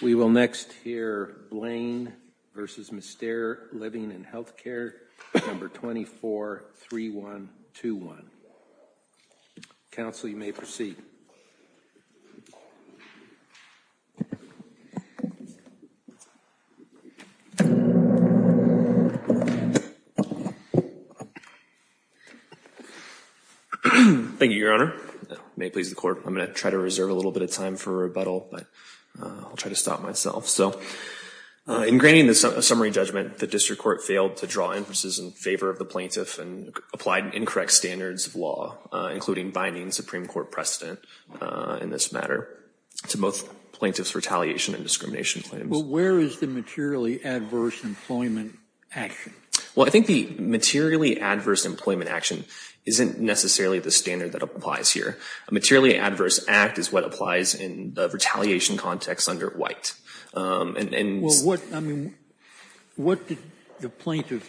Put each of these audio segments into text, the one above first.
243121. We will next hear Blaine v. Mystere Living & Healthcare No. 243121. Counsel, you may proceed. Thank you, Your Honor. May it please the court, I'm going to try to reserve a little bit of time for rebuttal, but I'll try to stop myself. So in granting the summary judgment, the district court failed to draw inferences in favor of the plaintiff and applied incorrect standards of law, including binding Supreme Court precedent in this matter, to both plaintiffs' retaliation and discrimination claims. Well, where is the materially adverse employment action? Well, I think the materially adverse employment action isn't necessarily the standard that applies here. A materially adverse act is what applies in the retaliation context under White. Well, what did the plaintiff,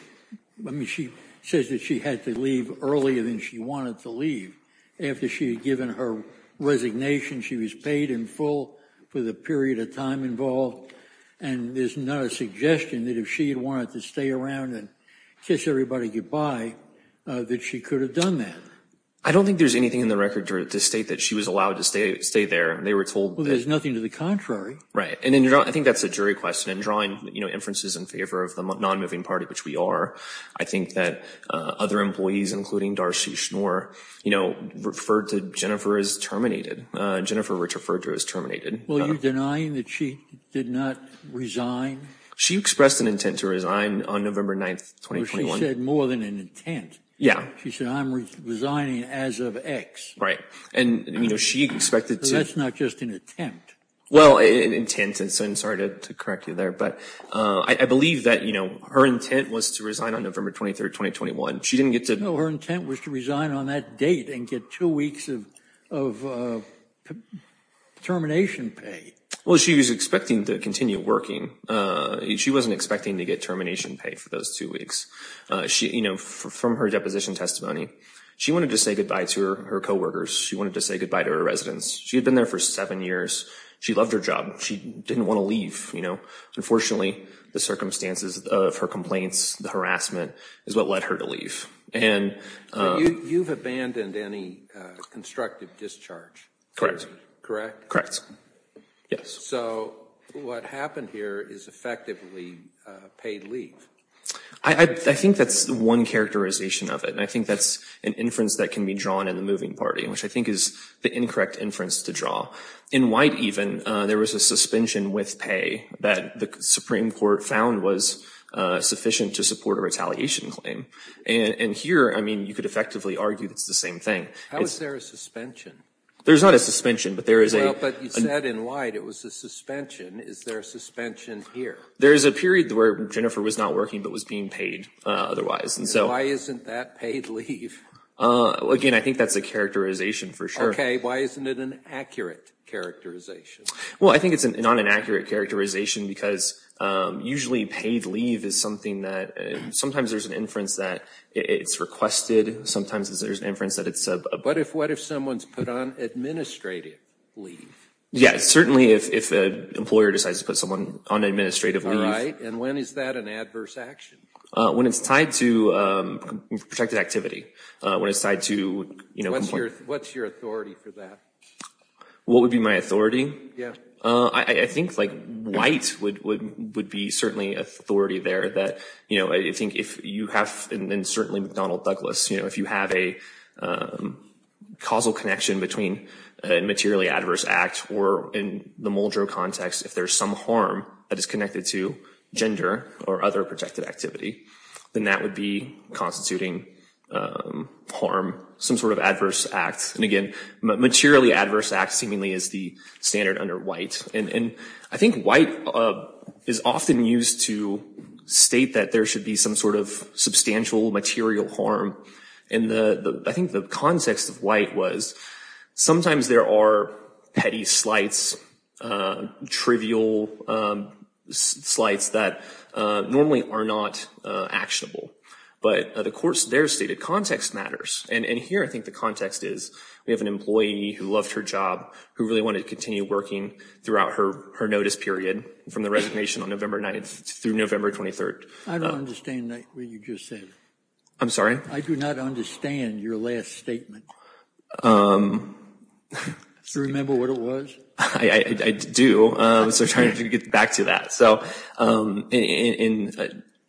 I mean, she says that she had to leave earlier than she wanted to leave. After she had given her resignation, she was paid in full for the period of time involved. And there's not a suggestion that if she had wanted to stay around and kiss everybody goodbye, that she could have done that. I don't think there's anything in the record to state that she was allowed to stay there. They were told that. Well, there's nothing to the contrary. Right, and I think that's a jury question. And drawing inferences in favor of the non-moving party, which we are, I think that other employees, including Darcy Schnoor, referred to Jennifer as terminated. Jennifer Richard-Ferger is terminated. Well, are you denying that she did not resign? She expressed an intent to resign on November 9, 2021. Well, she said more than an intent. Yeah. She said, I'm resigning as of X. Right, and she expected to. That's not just an attempt. Well, an intent, and so I'm sorry to correct you there. But I believe that her intent was to resign on November 23, 2021. She didn't get to. No, her intent was to resign on that date and get two weeks of termination pay. Well, she was expecting to continue working. She wasn't expecting to get termination pay for those two weeks. From her deposition testimony, she wanted to say goodbye to her coworkers. She wanted to say goodbye to her residents. She had been there for seven years. She loved her job. She didn't want to leave. Unfortunately, the circumstances of her complaints, the harassment, is what led her to leave. And you've abandoned any constructive discharge. Correct? Yes. So what happened here is effectively paid leave. I think that's one characterization of it. And I think that's an inference that can be drawn in the moving party, which I think is the incorrect inference to draw. In White, even, there was a suspension with pay that the Supreme Court found was sufficient to support a retaliation claim. And here, I mean, you could effectively argue it's the same thing. How is there a suspension? There's not a suspension, but there is a- Well, but you said in White it was a suspension. Is there a suspension here? There is a period where Jennifer was not working but was being paid otherwise. And why isn't that paid leave? Again, I think that's a characterization for sure. Why isn't it an accurate characterization? Well, I think it's not an accurate characterization because usually paid leave is something that sometimes there's an inference that it's requested. Sometimes there's an inference that it's a- But what if someone's put on administrative leave? Yes, certainly if an employer decides to put someone on administrative leave. And when is that an adverse action? When it's tied to protected activity. When it's tied to- What's your authority for that? What would be my authority? I think like White would be certainly authority there that I think if you have, and certainly McDonnell Douglas, if you have a causal connection between a materially adverse act or in the Muldrow context, if there's some harm that is connected to gender or other protected activity, then that would be constituting harm, some sort of adverse act. And again, materially adverse act seemingly is the standard under White. And I think White is often used to state that there should be some sort of substantial material harm. And I think the context of White was sometimes there are petty slights, trivial slights that normally are not actionable. But of course, their stated context matters. And here, I think the context is, we have an employee who loved her job, who really wanted to continue working throughout her notice period from the resignation on November 9th through November 23rd. I don't understand what you just said. I'm sorry? I do not understand your last statement. Do you remember what it was? I do, so I'm trying to get back to that. So in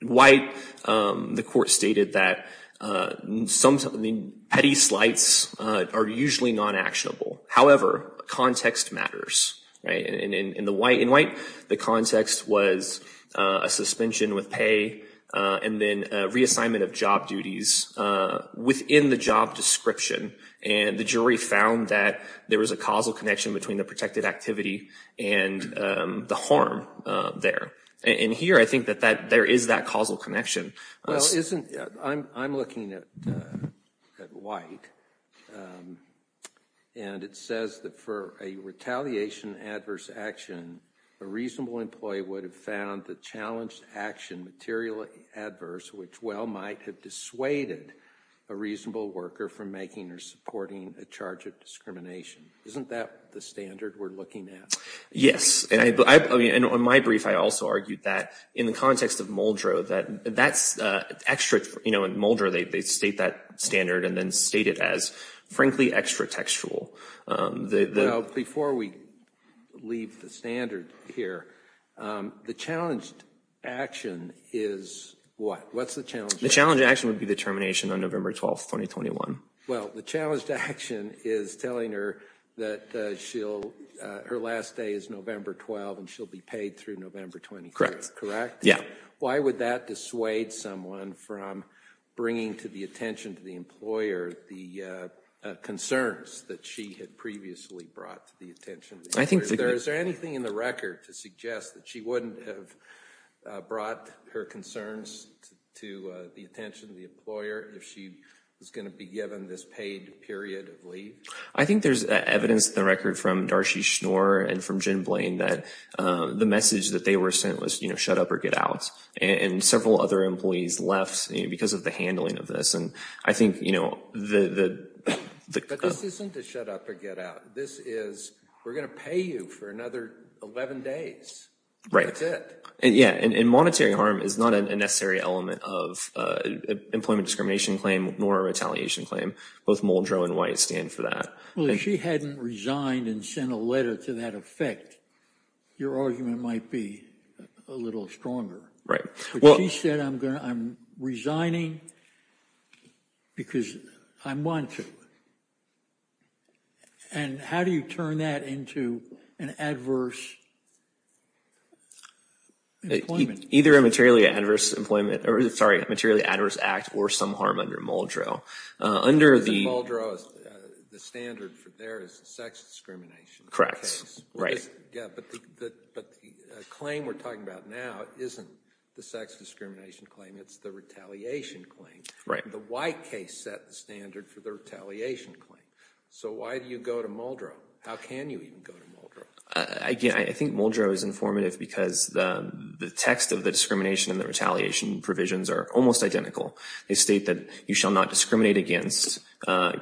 White, the court stated that petty slights are usually non-actionable. However, context matters, right? And in White, the context was a suspension with pay and then reassignment of job duties within the job description. And the jury found that there was a causal connection between the protected activity and the harm there. And here, I think that there is that causal connection. Well, I'm looking at White, and it says that for a retaliation adverse action, a reasonable employee would have found the challenged action materially adverse, which well might have dissuaded a reasonable worker from making or supporting a charge of discrimination. Isn't that the standard we're looking at? Yes, and on my brief, I also argued that in the context of Muldrow, that's extra, in Muldrow, they state that standard and then state it as frankly extra textual. Before we leave the standard here, the challenged action is what? What's the challenged action? The challenged action would be the termination on November 12th, 2021. Well, the challenged action is telling her that her last day is November 12 and she'll be paid through November 23, correct? Yeah. Why would that dissuade someone from bringing to the attention to the employer the concerns that she had previously brought to the attention of the employer? Is there anything in the record to suggest that she wouldn't have brought her concerns to the attention of the employer if she was gonna be given this paid period of leave? I think there's evidence in the record from Darcy Schnoor and from Jim Blaine that the message that they were sent was shut up or get out. And several other employees left because of the handling of this. And I think the- But this isn't a shut up or get out. This is, we're gonna pay you for another 11 days. Right. That's it. Yeah, and monetary harm is not a necessary element of employment discrimination claim nor retaliation claim. Both Muldrow and White stand for that. Well, if she hadn't resigned and sent a letter to that effect, your argument might be a little stronger. Right. She said, I'm resigning because I want to. And how do you turn that into an adverse employment? Either a materially adverse employment, or sorry, a materially adverse act or some harm under Muldrow. Under the- Muldrow, the standard for there is sex discrimination. Correct. Yeah, but the claim we're talking about now isn't the sex discrimination claim. It's the retaliation claim. Right. The White case set the standard for the retaliation claim. So why do you go to Muldrow? How can you even go to Muldrow? Again, I think Muldrow is informative because the text of the discrimination and the retaliation provisions are almost identical. They state that you shall not discriminate against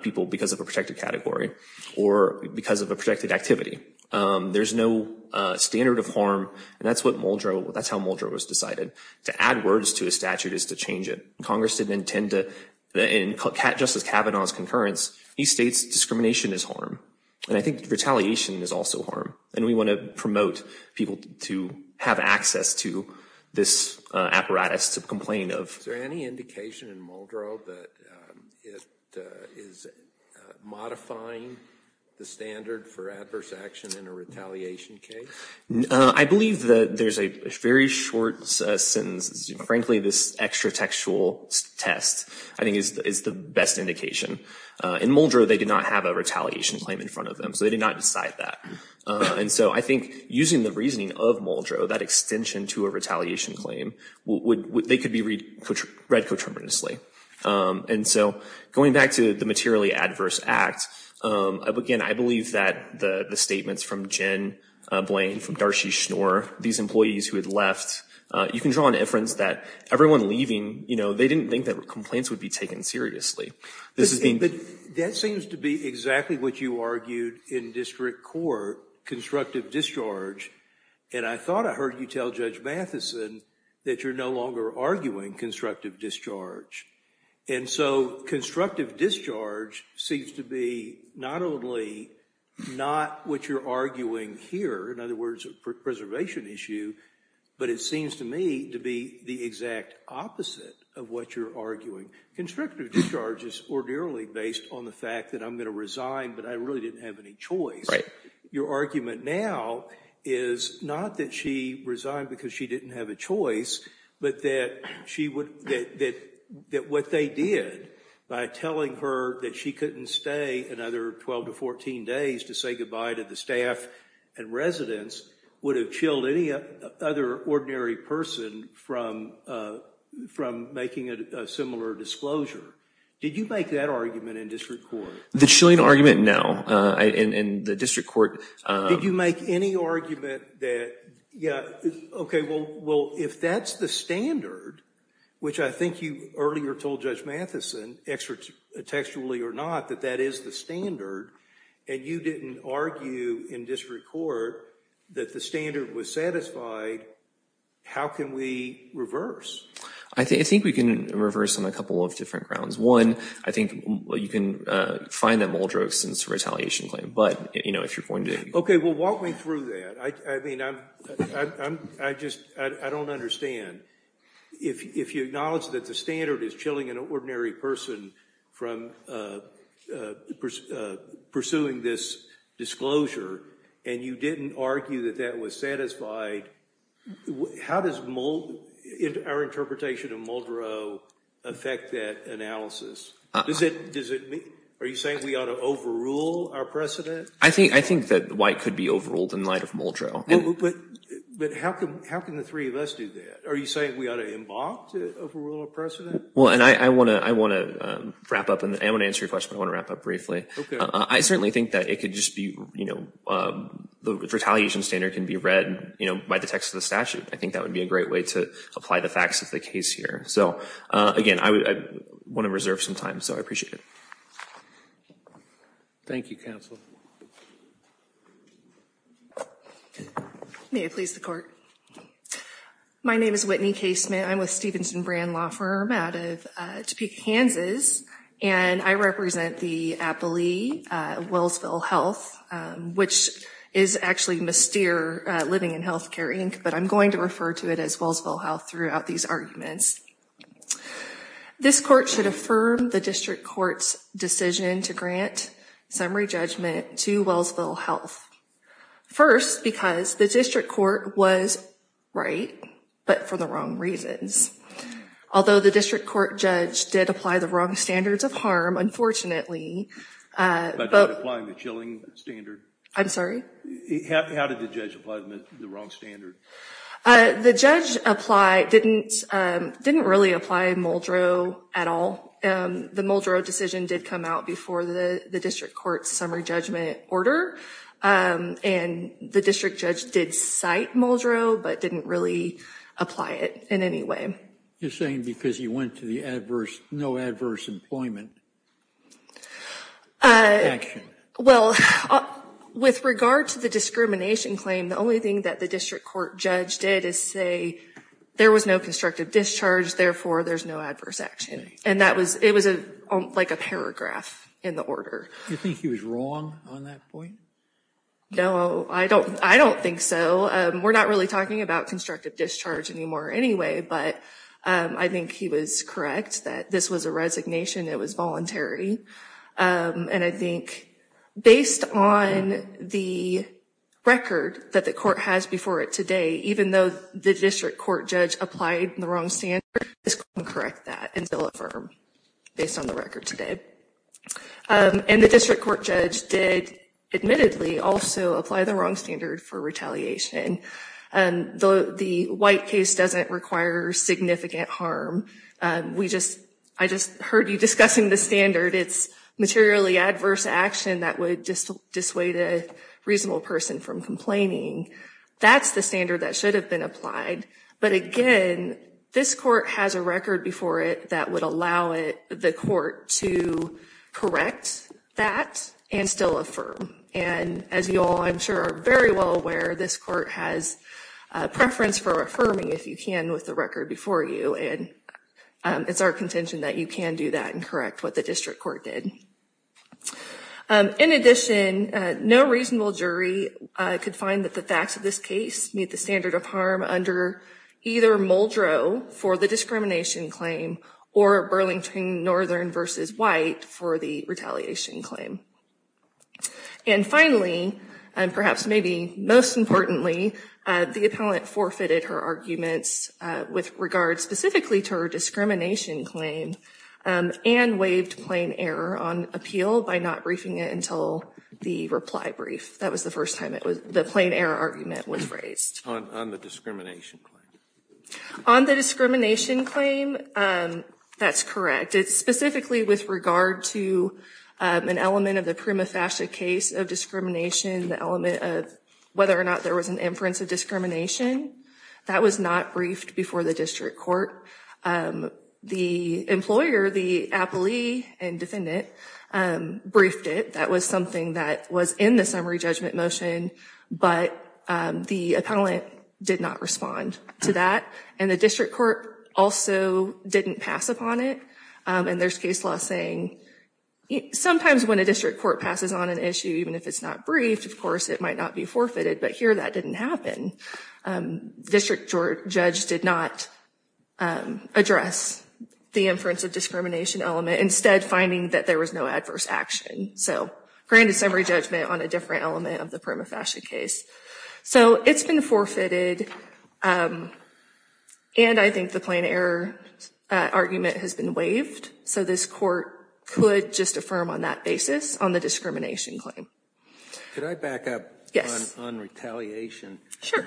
people because of a protected category or because of a protected activity. There's no standard of harm, and that's what Muldrow, that's how Muldrow was decided. To add words to a statute is to change it. Congress didn't intend to, in Justice Kavanaugh's concurrence, he states discrimination is harm. And I think retaliation is also harm. And we want to promote people to have access to this apparatus to complain of. Is there any indication in Muldrow that it is modifying the standard for adverse action in a retaliation case? I believe that there's a very short sentence. Frankly, this extra textual test, I think is the best indication. In Muldrow, they did not have a retaliation claim in front of them, so they did not decide that. And so I think using the reasoning of Muldrow, that extension to a retaliation claim, they could be read coterminously. And so going back to the materially adverse act, again, I believe that the statements from Jen Blaine, from Darcy Schnoor, these employees who had left, you can draw an inference that everyone leaving, they didn't think that complaints would be taken seriously. This is being- That seems to be exactly what you argued in district court, constructive discharge. And I thought I heard you tell Judge Matheson that you're no longer arguing constructive discharge. And so constructive discharge seems to be not only not what you're arguing here, in other words, a preservation issue, but it seems to me to be the exact opposite of what you're arguing. Constructive discharge is ordinarily based on the fact that I'm gonna resign, but I really didn't have any choice. Your argument now is not that she resigned because she didn't have a choice, but that what they did by telling her that she couldn't stay another 12 to 14 days to say goodbye to the staff and residents would have chilled any other ordinary person from making a similar disclosure. Did you make that argument in district court? The chilling argument, no, in the district court- Did you make any argument that, yeah, okay, well, if that's the standard, which I think you earlier told Judge Matheson, extra textually or not, that that is the standard, and you didn't argue in district court that the standard was satisfied, how can we reverse? I think we can reverse on a couple of different grounds. One, I think you can find that Muldrokes since retaliation claim, but if you're going to- Okay, well, walk me through that. I mean, I just, I don't understand. If you acknowledge that the standard is chilling an ordinary person from pursuing this disclosure, and you didn't argue that that was satisfied, how does our interpretation of Muldrow affect that analysis? Are you saying we ought to overrule our precedent? I think that White could be overruled in light of Muldrow. Well, but how can the three of us do that? Are you saying we ought to embark to overrule our precedent? Well, and I want to wrap up, and I want to answer your question, but I want to wrap up briefly. I certainly think that it could just be, the retaliation standard can be read by the text of the statute. I think that would be a great way to apply the facts of the case here. So, again, I want to reserve some time, so I appreciate it. Thank you, counsel. Okay. May it please the court. My name is Whitney Casement. I'm with Stephenson Brand Law Firm out of Topeka, Kansas, and I represent the appellee, Wellsville Health, which is actually Mystere Living and Healthcare, Inc., but I'm going to refer to it as Wellsville Health throughout these arguments. This court should affirm the district court's decision to grant summary judgment to Wellsville Health. First, because the district court was right, but for the wrong reasons. Although the district court judge did apply the wrong standards of harm, unfortunately, but- By not applying the chilling standard? I'm sorry? How did the judge apply the wrong standard? The judge didn't really apply Muldrow at all. The Muldrow decision did come out before the district court's summary judgment order, and the district judge did cite Muldrow, but didn't really apply it in any way. You're saying because he went to the adverse, no adverse employment action? Well, with regard to the discrimination claim, the only thing that the district court judge did is say there was no constructive discharge, therefore, there's no adverse action, and it was like a paragraph in the order. You think he was wrong on that point? No, I don't think so. We're not really talking about constructive discharge anymore anyway, but I think he was correct that this was a resignation, it was voluntary, and I think based on the record that the court has before it today, even though the district court judge applied the wrong standard, this couldn't correct that until affirmed based on the record today, and the district court judge did admittedly also apply the wrong standard for retaliation. The White case doesn't require significant harm. I just heard you discussing the standard. It's materially adverse action that would dissuade a reasonable person from complaining. That's the standard that should have been applied, but again, this court has a record before it that would allow the court to correct that and still affirm, and as you all, I'm sure, are very well aware, this court has a preference for affirming, if you can, with the record before you, and it's our contention that you can do that and correct what the district court did. In addition, no reasonable jury could find that the facts of this case meet the standard of harm under either Muldrow for the discrimination claim or Burlington Northern versus White for the retaliation claim. And finally, and perhaps maybe most importantly, the appellant forfeited her arguments with regard specifically to her discrimination claim and waived plain error on appeal by not briefing it until the reply brief. That was the first time the plain error argument was raised. On the discrimination claim. On the discrimination claim, that's correct. It's specifically with regard to an element of the prima facie case of discrimination, the element of whether or not there was an inference of discrimination, that was not briefed before the district court. The employer, the appellee and defendant, briefed it. That was something that was in the summary judgment motion, but the appellant did not respond to that. And the district court also didn't pass upon it. And there's case law saying, sometimes when a district court passes on an issue, even if it's not briefed, of course, it might not be forfeited, but here that didn't happen. District judge did not address the inference of discrimination element, instead finding that there was no adverse action. So, granted summary judgment on a different element of the prima facie case. So, it's been forfeited, and I think the plain error argument has been waived. So, this court could just affirm on that basis on the discrimination claim. Could I back up? On retaliation. Sure.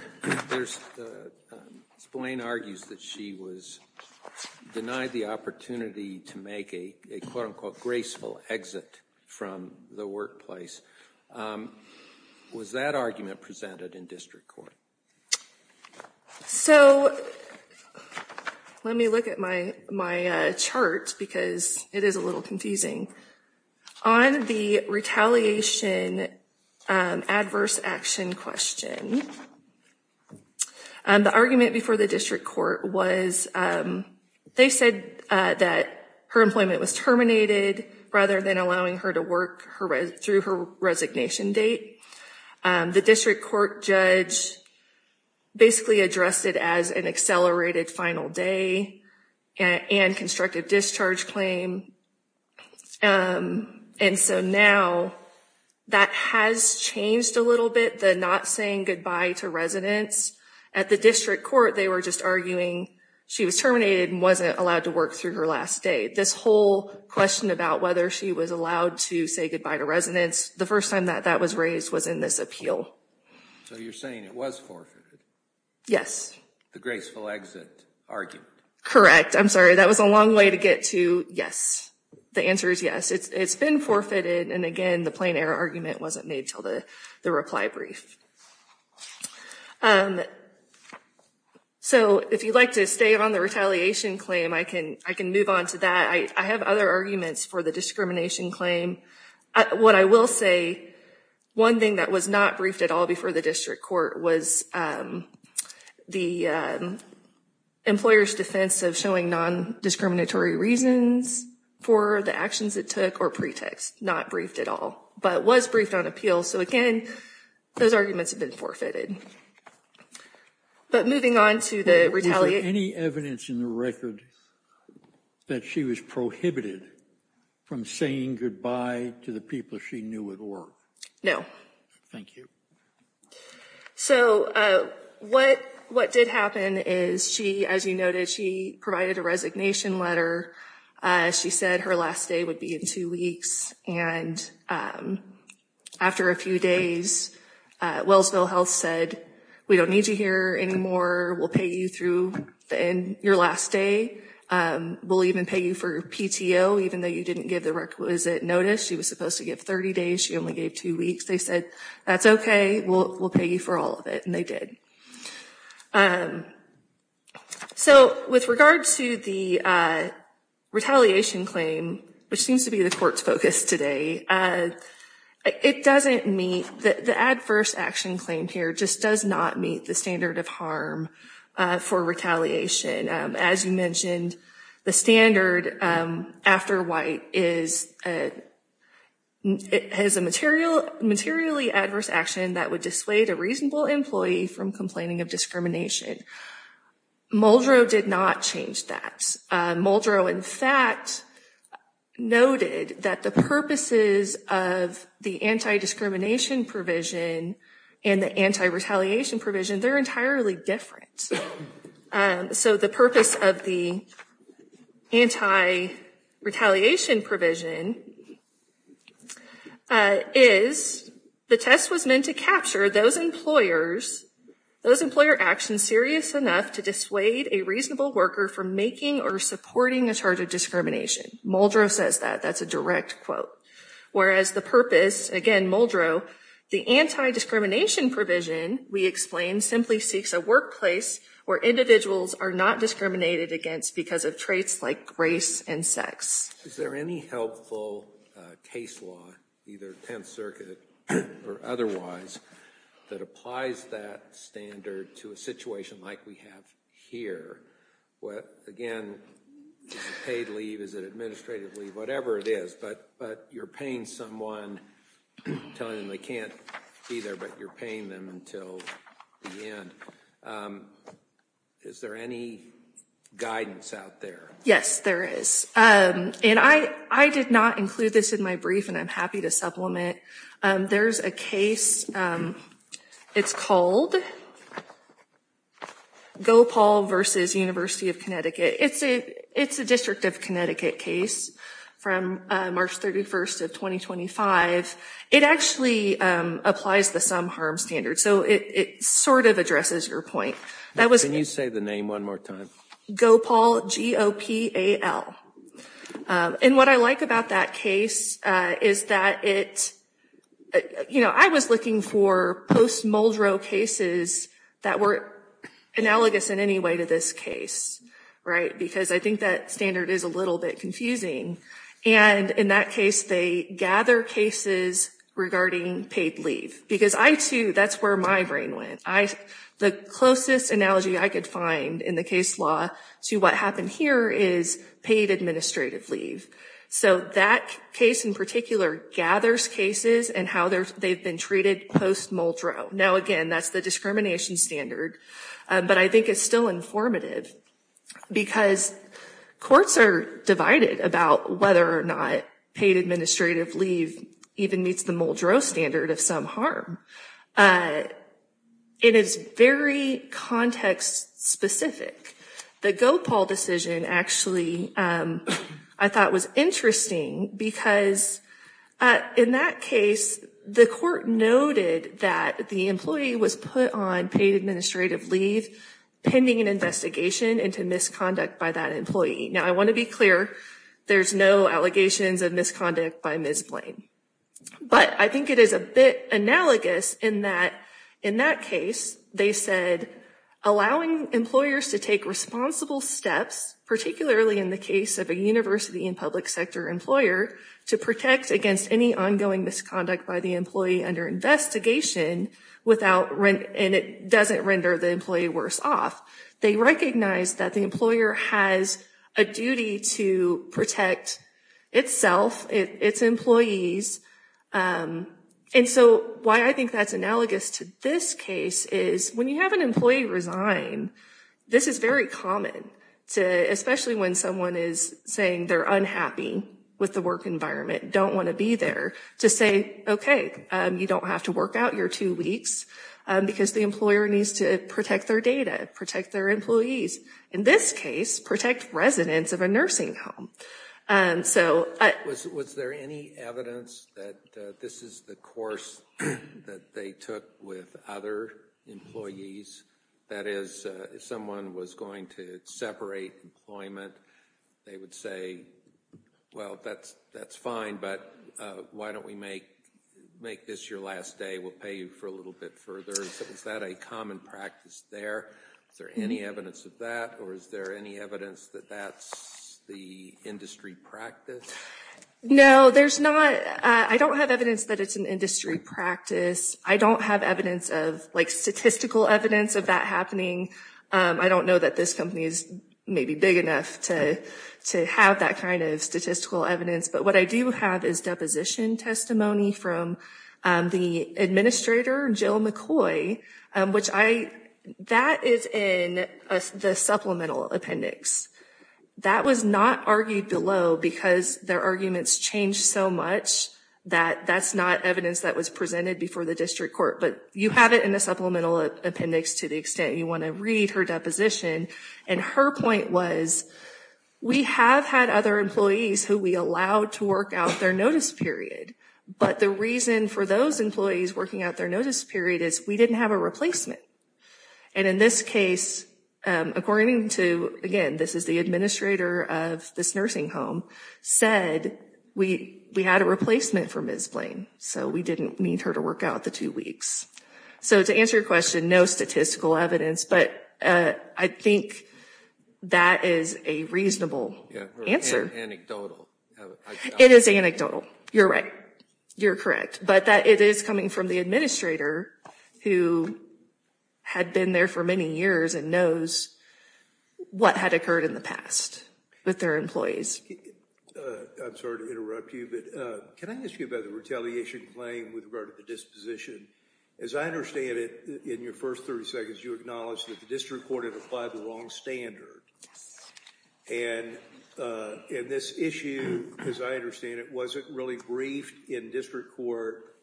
Blaine argues that she was denied the opportunity to make a quote unquote graceful exit from the workplace. Was that argument presented in district court? So, let me look at my chart because it is a little confusing. On the retaliation adverse action question, the argument before the district court was, they said that her employment was terminated rather than allowing her to work through her resignation date. The district court judge basically addressed it as an accelerated final day and constructive discharge claim. And so now, that has changed a little bit, the not saying goodbye to residents. At the district court, they were just arguing she was terminated and wasn't allowed to work through her last day. This whole question about whether she was allowed to say goodbye to residents, the first time that that was raised was in this appeal. So, you're saying it was forfeited? Yes. The graceful exit argument. Correct. I'm sorry, that was a long way to get to yes. The answer is yes. It's been forfeited and again, the plain error argument wasn't made until the reply brief. So, if you'd like to stay on the retaliation claim, I can move on to that. I have other arguments for the discrimination claim. What I will say, one thing that was not briefed at all before the district court was the employer's defense of showing non-discriminatory reasons for the actions it took or pretext. Not briefed at all, but was briefed on appeal. So again, those arguments have been forfeited. But moving on to the retaliation. Any evidence in the record that she was prohibited from saying goodbye to the people she knew at work? No. Thank you. So, what did happen is she, as you noted, she provided a resignation letter. She said her last day would be in two weeks and after a few days, Wellsville Health said, we don't need you here anymore. We'll pay you through your last day. We'll even pay you for PTO, even though you didn't give the requisite notice. She was supposed to give 30 days. She only gave two weeks. They said, that's okay, we'll pay you for all of it and they did. So, with regard to the retaliation claim, which seems to be the court's focus today, it doesn't meet, the adverse action claim here just does not meet the standard of harm for retaliation. As you mentioned, the standard after white is a materially adverse action that would dissuade a reasonable employee from complaining of discrimination. Muldrow did not change that. Muldrow, in fact, noted that the purposes of the anti-discrimination provision and the anti-retaliation provision, they're entirely different. So, the purpose of the anti-retaliation provision is the test was meant to capture those employers, those employer actions serious enough to dissuade a reasonable worker from making or supporting a charge of discrimination. Muldrow says that, that's a direct quote. Whereas, the purpose, again, Muldrow, the anti-discrimination provision, we explained, simply seeks a workplace where individuals are not discriminated against because of traits like race and sex. Is there any helpful case law, either 10th Circuit or otherwise, that applies that standard to a situation like we have here? What, again, is it paid leave, is it administrative leave, whatever it is, but you're paying someone, telling them they can't be there, but you're paying them until the end. Is there any guidance out there? Yes, there is. And I did not include this in my brief, and I'm happy to supplement. There's a case, it's called Gopal versus University of Connecticut. It's a District of Connecticut case from March 31st of 2025. It actually applies the some harm standard. So, it sort of addresses your point. That was- Can you say the name one more time? Gopal, G-O-P-A-L. And what I like about that case is that it, I was looking for post-Muldrow cases that were analogous in any way to this case, right? Because I think that standard is a little bit confusing. And in that case, they gather cases regarding paid leave. Because I, too, that's where my brain went. The closest analogy I could find in the case law to what happened here is paid administrative leave. So, that case in particular gathers cases and how they've been treated post-Muldrow. Now, again, that's the discrimination standard, but I think it's still informative because courts are divided about whether or not paid administrative leave even meets the Muldrow standard of some harm. It is very context-specific. The Gopal decision, actually, I thought was interesting because in that case, the court noted that the employee was put on paid administrative leave pending an investigation into misconduct by that employee. Now, I want to be clear, there's no allegations of misconduct by Ms. Blaine. But I think it is a bit analogous in that, in that case, they said, allowing employers to take responsible steps, particularly in the case of a university and public sector employer, to protect against any ongoing misconduct by the employee under investigation without, and it doesn't render the employee worse off. They recognize that the employer has a duty to protect itself, its employees. And so, why I think that's analogous to this case is when you have an employee resign, this is very common, especially when someone is saying they're unhappy with the work environment, don't want to be there, to say, okay, you don't have to work out your two weeks because the employer needs to protect their data, protect their employees. In this case, protect residents of a nursing home. Was there any evidence that this is the course that they took with other employees? That is, if someone was going to separate employment, they would say, well, that's fine, but why don't we make this your last day? We'll pay you for a little bit further. Is that a common practice there? Is there any evidence of that, or is there any evidence that that's the industry practice? No, there's not. I don't have evidence that it's an industry practice. I don't have evidence of, like statistical evidence of that happening. I don't know that this company is maybe big enough to have that kind of statistical evidence, but what I do have is deposition testimony from the administrator, Jill McCoy, which that is in the supplemental appendix. That was not argued below because their arguments changed so much that that's not evidence that was presented before the district court, but you have it in the supplemental appendix to the extent you want to read her deposition, and her point was, we have had other employees who we allowed to work out their notice period, but the reason for those employees working out their notice period is we didn't have a replacement, and in this case, according to, again, this is the administrator of this nursing home, said we had a replacement for Ms. Blaine, so we didn't need her to work out the two weeks. So to answer your question, no statistical evidence, but I think that is a reasonable answer. It's anecdotal. It is anecdotal, you're right, you're correct, but that it is coming from the administrator who had been there for many years and knows what had occurred in the past with their employees. I'm sorry to interrupt you, but can I ask you about the retaliation claim with regard to the disposition? As I understand it, in your first 30 seconds, you acknowledged that the district court had applied the wrong standard, and this issue, as I understand it, wasn't really briefed in district court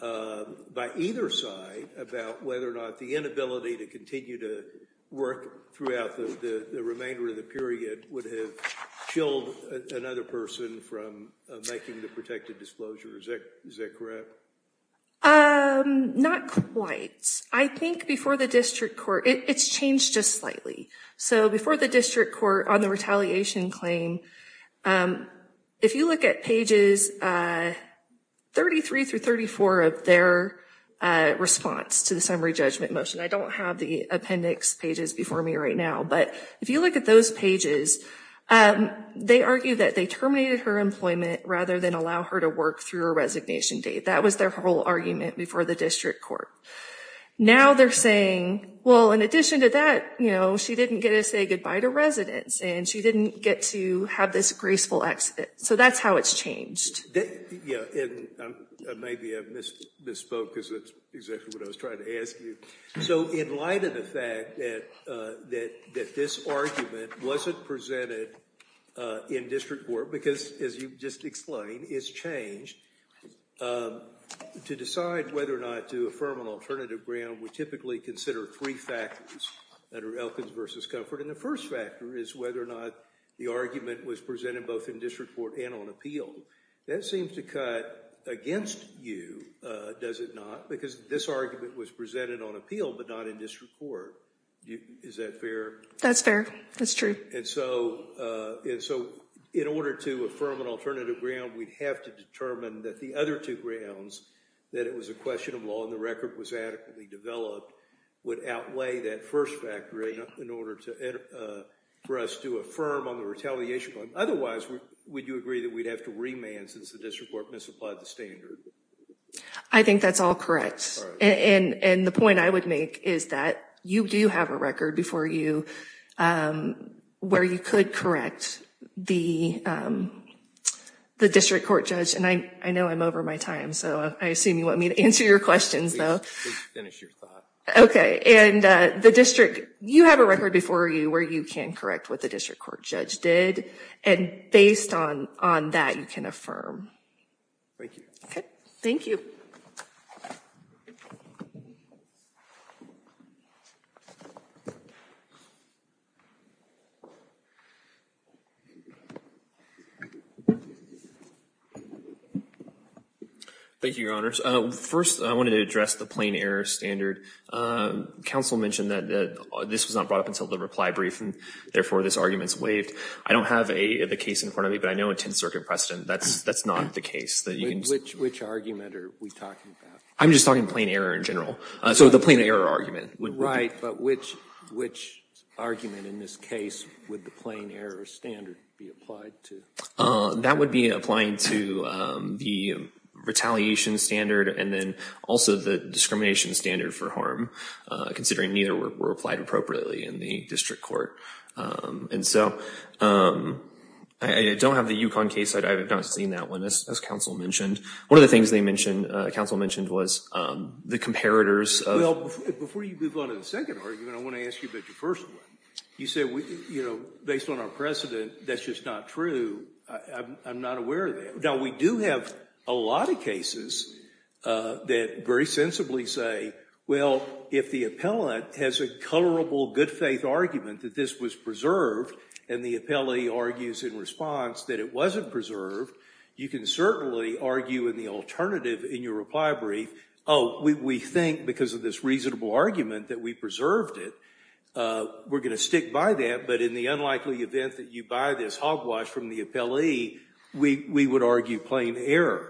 by either side about whether or not the inability to continue to work throughout the remainder of the period would have killed another person from making the protected disclosure. Is that correct? Not quite. I think before the district court, it's changed just slightly. So before the district court, on the retaliation claim, if you look at pages 33 through 34 of their response to the summary judgment motion, I don't have the appendix pages before me right now, but if you look at those pages, they argue that they terminated her employment rather than allow her to work through her resignation date. That was their whole argument before the district court. Now they're saying, well, in addition to that, she didn't get to say goodbye to residents, and she didn't get to have this graceful exit. So that's how it's changed. Yeah, and maybe I misspoke, because that's exactly what I was trying to ask you. So in light of the fact that this argument wasn't presented in district court, because as you just explained, it's changed, to decide whether or not to affirm an alternative grant would typically consider three factors that are Elkins versus Comfort. And the first factor is whether or not the argument was presented both in district court and on appeal. That seems to cut against you, does it not? Because this argument was presented on appeal, but not in district court. Is that fair? That's fair, that's true. And so in order to affirm an alternative grant, we'd have to determine that the other two grants, that it was a question of law and the record was adequately developed, would outweigh that first factor in order for us to affirm on the retaliation plan. Otherwise, would you agree that we'd have to remand since the district court misapplied the standard? I think that's all correct. And the point I would make is that you do have a record before you, where you could correct the district court judge. And I know I'm over my time, so I assume you want me to answer your questions, though. Please finish your thought. Okay, and the district, you have a record before you where you can correct what the district court judge did. And based on that, you can affirm. Thank you. Okay, thank you. Thank you, Your Honors. First, I wanted to address the plain error standard. Counsel mentioned that this was not brought up until the reply brief, and therefore, this argument's waived. I don't have the case in front of me, but I know in 10th Circuit precedent, that's not the case. Which argument are we talking about? I'm just talking plain error in general. So the plain error argument. Right, but which argument in this case would the plain error standard be applied to? That would be applying to the retaliation standard, and then also the discrimination standard for harm, considering neither were applied appropriately in the district court. And so, I don't have the Yukon case. I have not seen that one, as counsel mentioned. One of the things they mentioned, counsel mentioned, was the comparators of. Well, before you move on to the second argument, I want to ask you about your first one. You said, you know, based on our precedent, that's just not true. I'm not aware of that. Now, we do have a lot of cases that very sensibly say, well, if the appellant has a colorable good faith argument that this was preserved, and the appellee argues in response that it wasn't preserved, you can certainly argue in the alternative in your reply brief, oh, we think because of this reasonable argument that we preserved it. We're gonna stick by that, but in the unlikely event that you buy this hogwash from the appellee, we would argue plain error.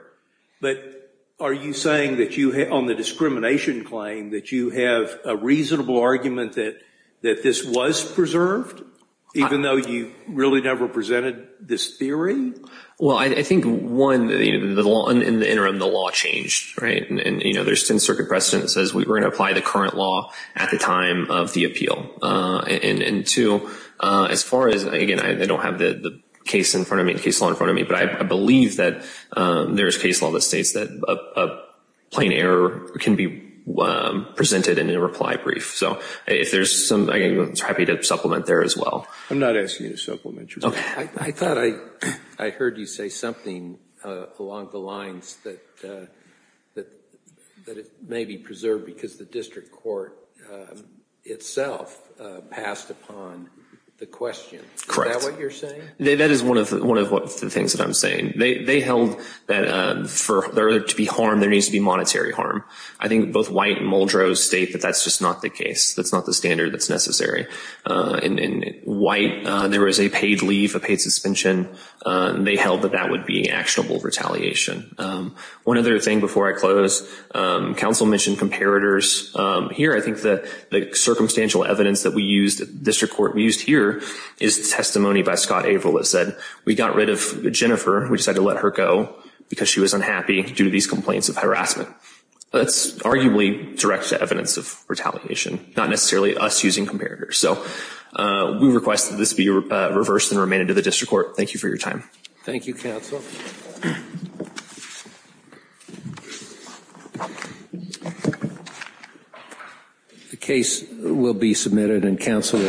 But are you saying that you, on the discrimination claim, that you have a reasonable argument that this was preserved, even though you really never presented this theory? Well, I think, one, in the interim, the law changed, right? And, you know, there's 10-circuit precedent that says we were gonna apply the current law at the time of the appeal. And two, as far as, again, I don't have the case law in front of me, but I believe that there's case law that states that a plain error can be presented in a reply brief. So, if there's some, I'm happy to supplement there as well. I'm not asking you to supplement. I thought I heard you say something along the lines that it may be preserved because the district court itself passed upon the question. Correct. Is that what you're saying? That is one of the things that I'm saying. They held that for there to be harm, there needs to be monetary harm. I think both White and Muldrow state that that's just not the case. That's not the standard that's necessary. In White, there was a paid leave, a paid suspension. They held that that would be actionable retaliation. One other thing before I close, counsel mentioned comparators. Here, I think that the circumstantial evidence that we used, district court used here, is testimony by Scott Averill that said, we got rid of Jennifer. We decided to let her go because she was unhappy due to these complaints of harassment. That's arguably direct to evidence of retaliation, not necessarily us using comparators. So, we request that this be reversed and remain into the district court. Thank you for your time. Thank you, counsel. Thank you. The case will be submitted and counsel excused.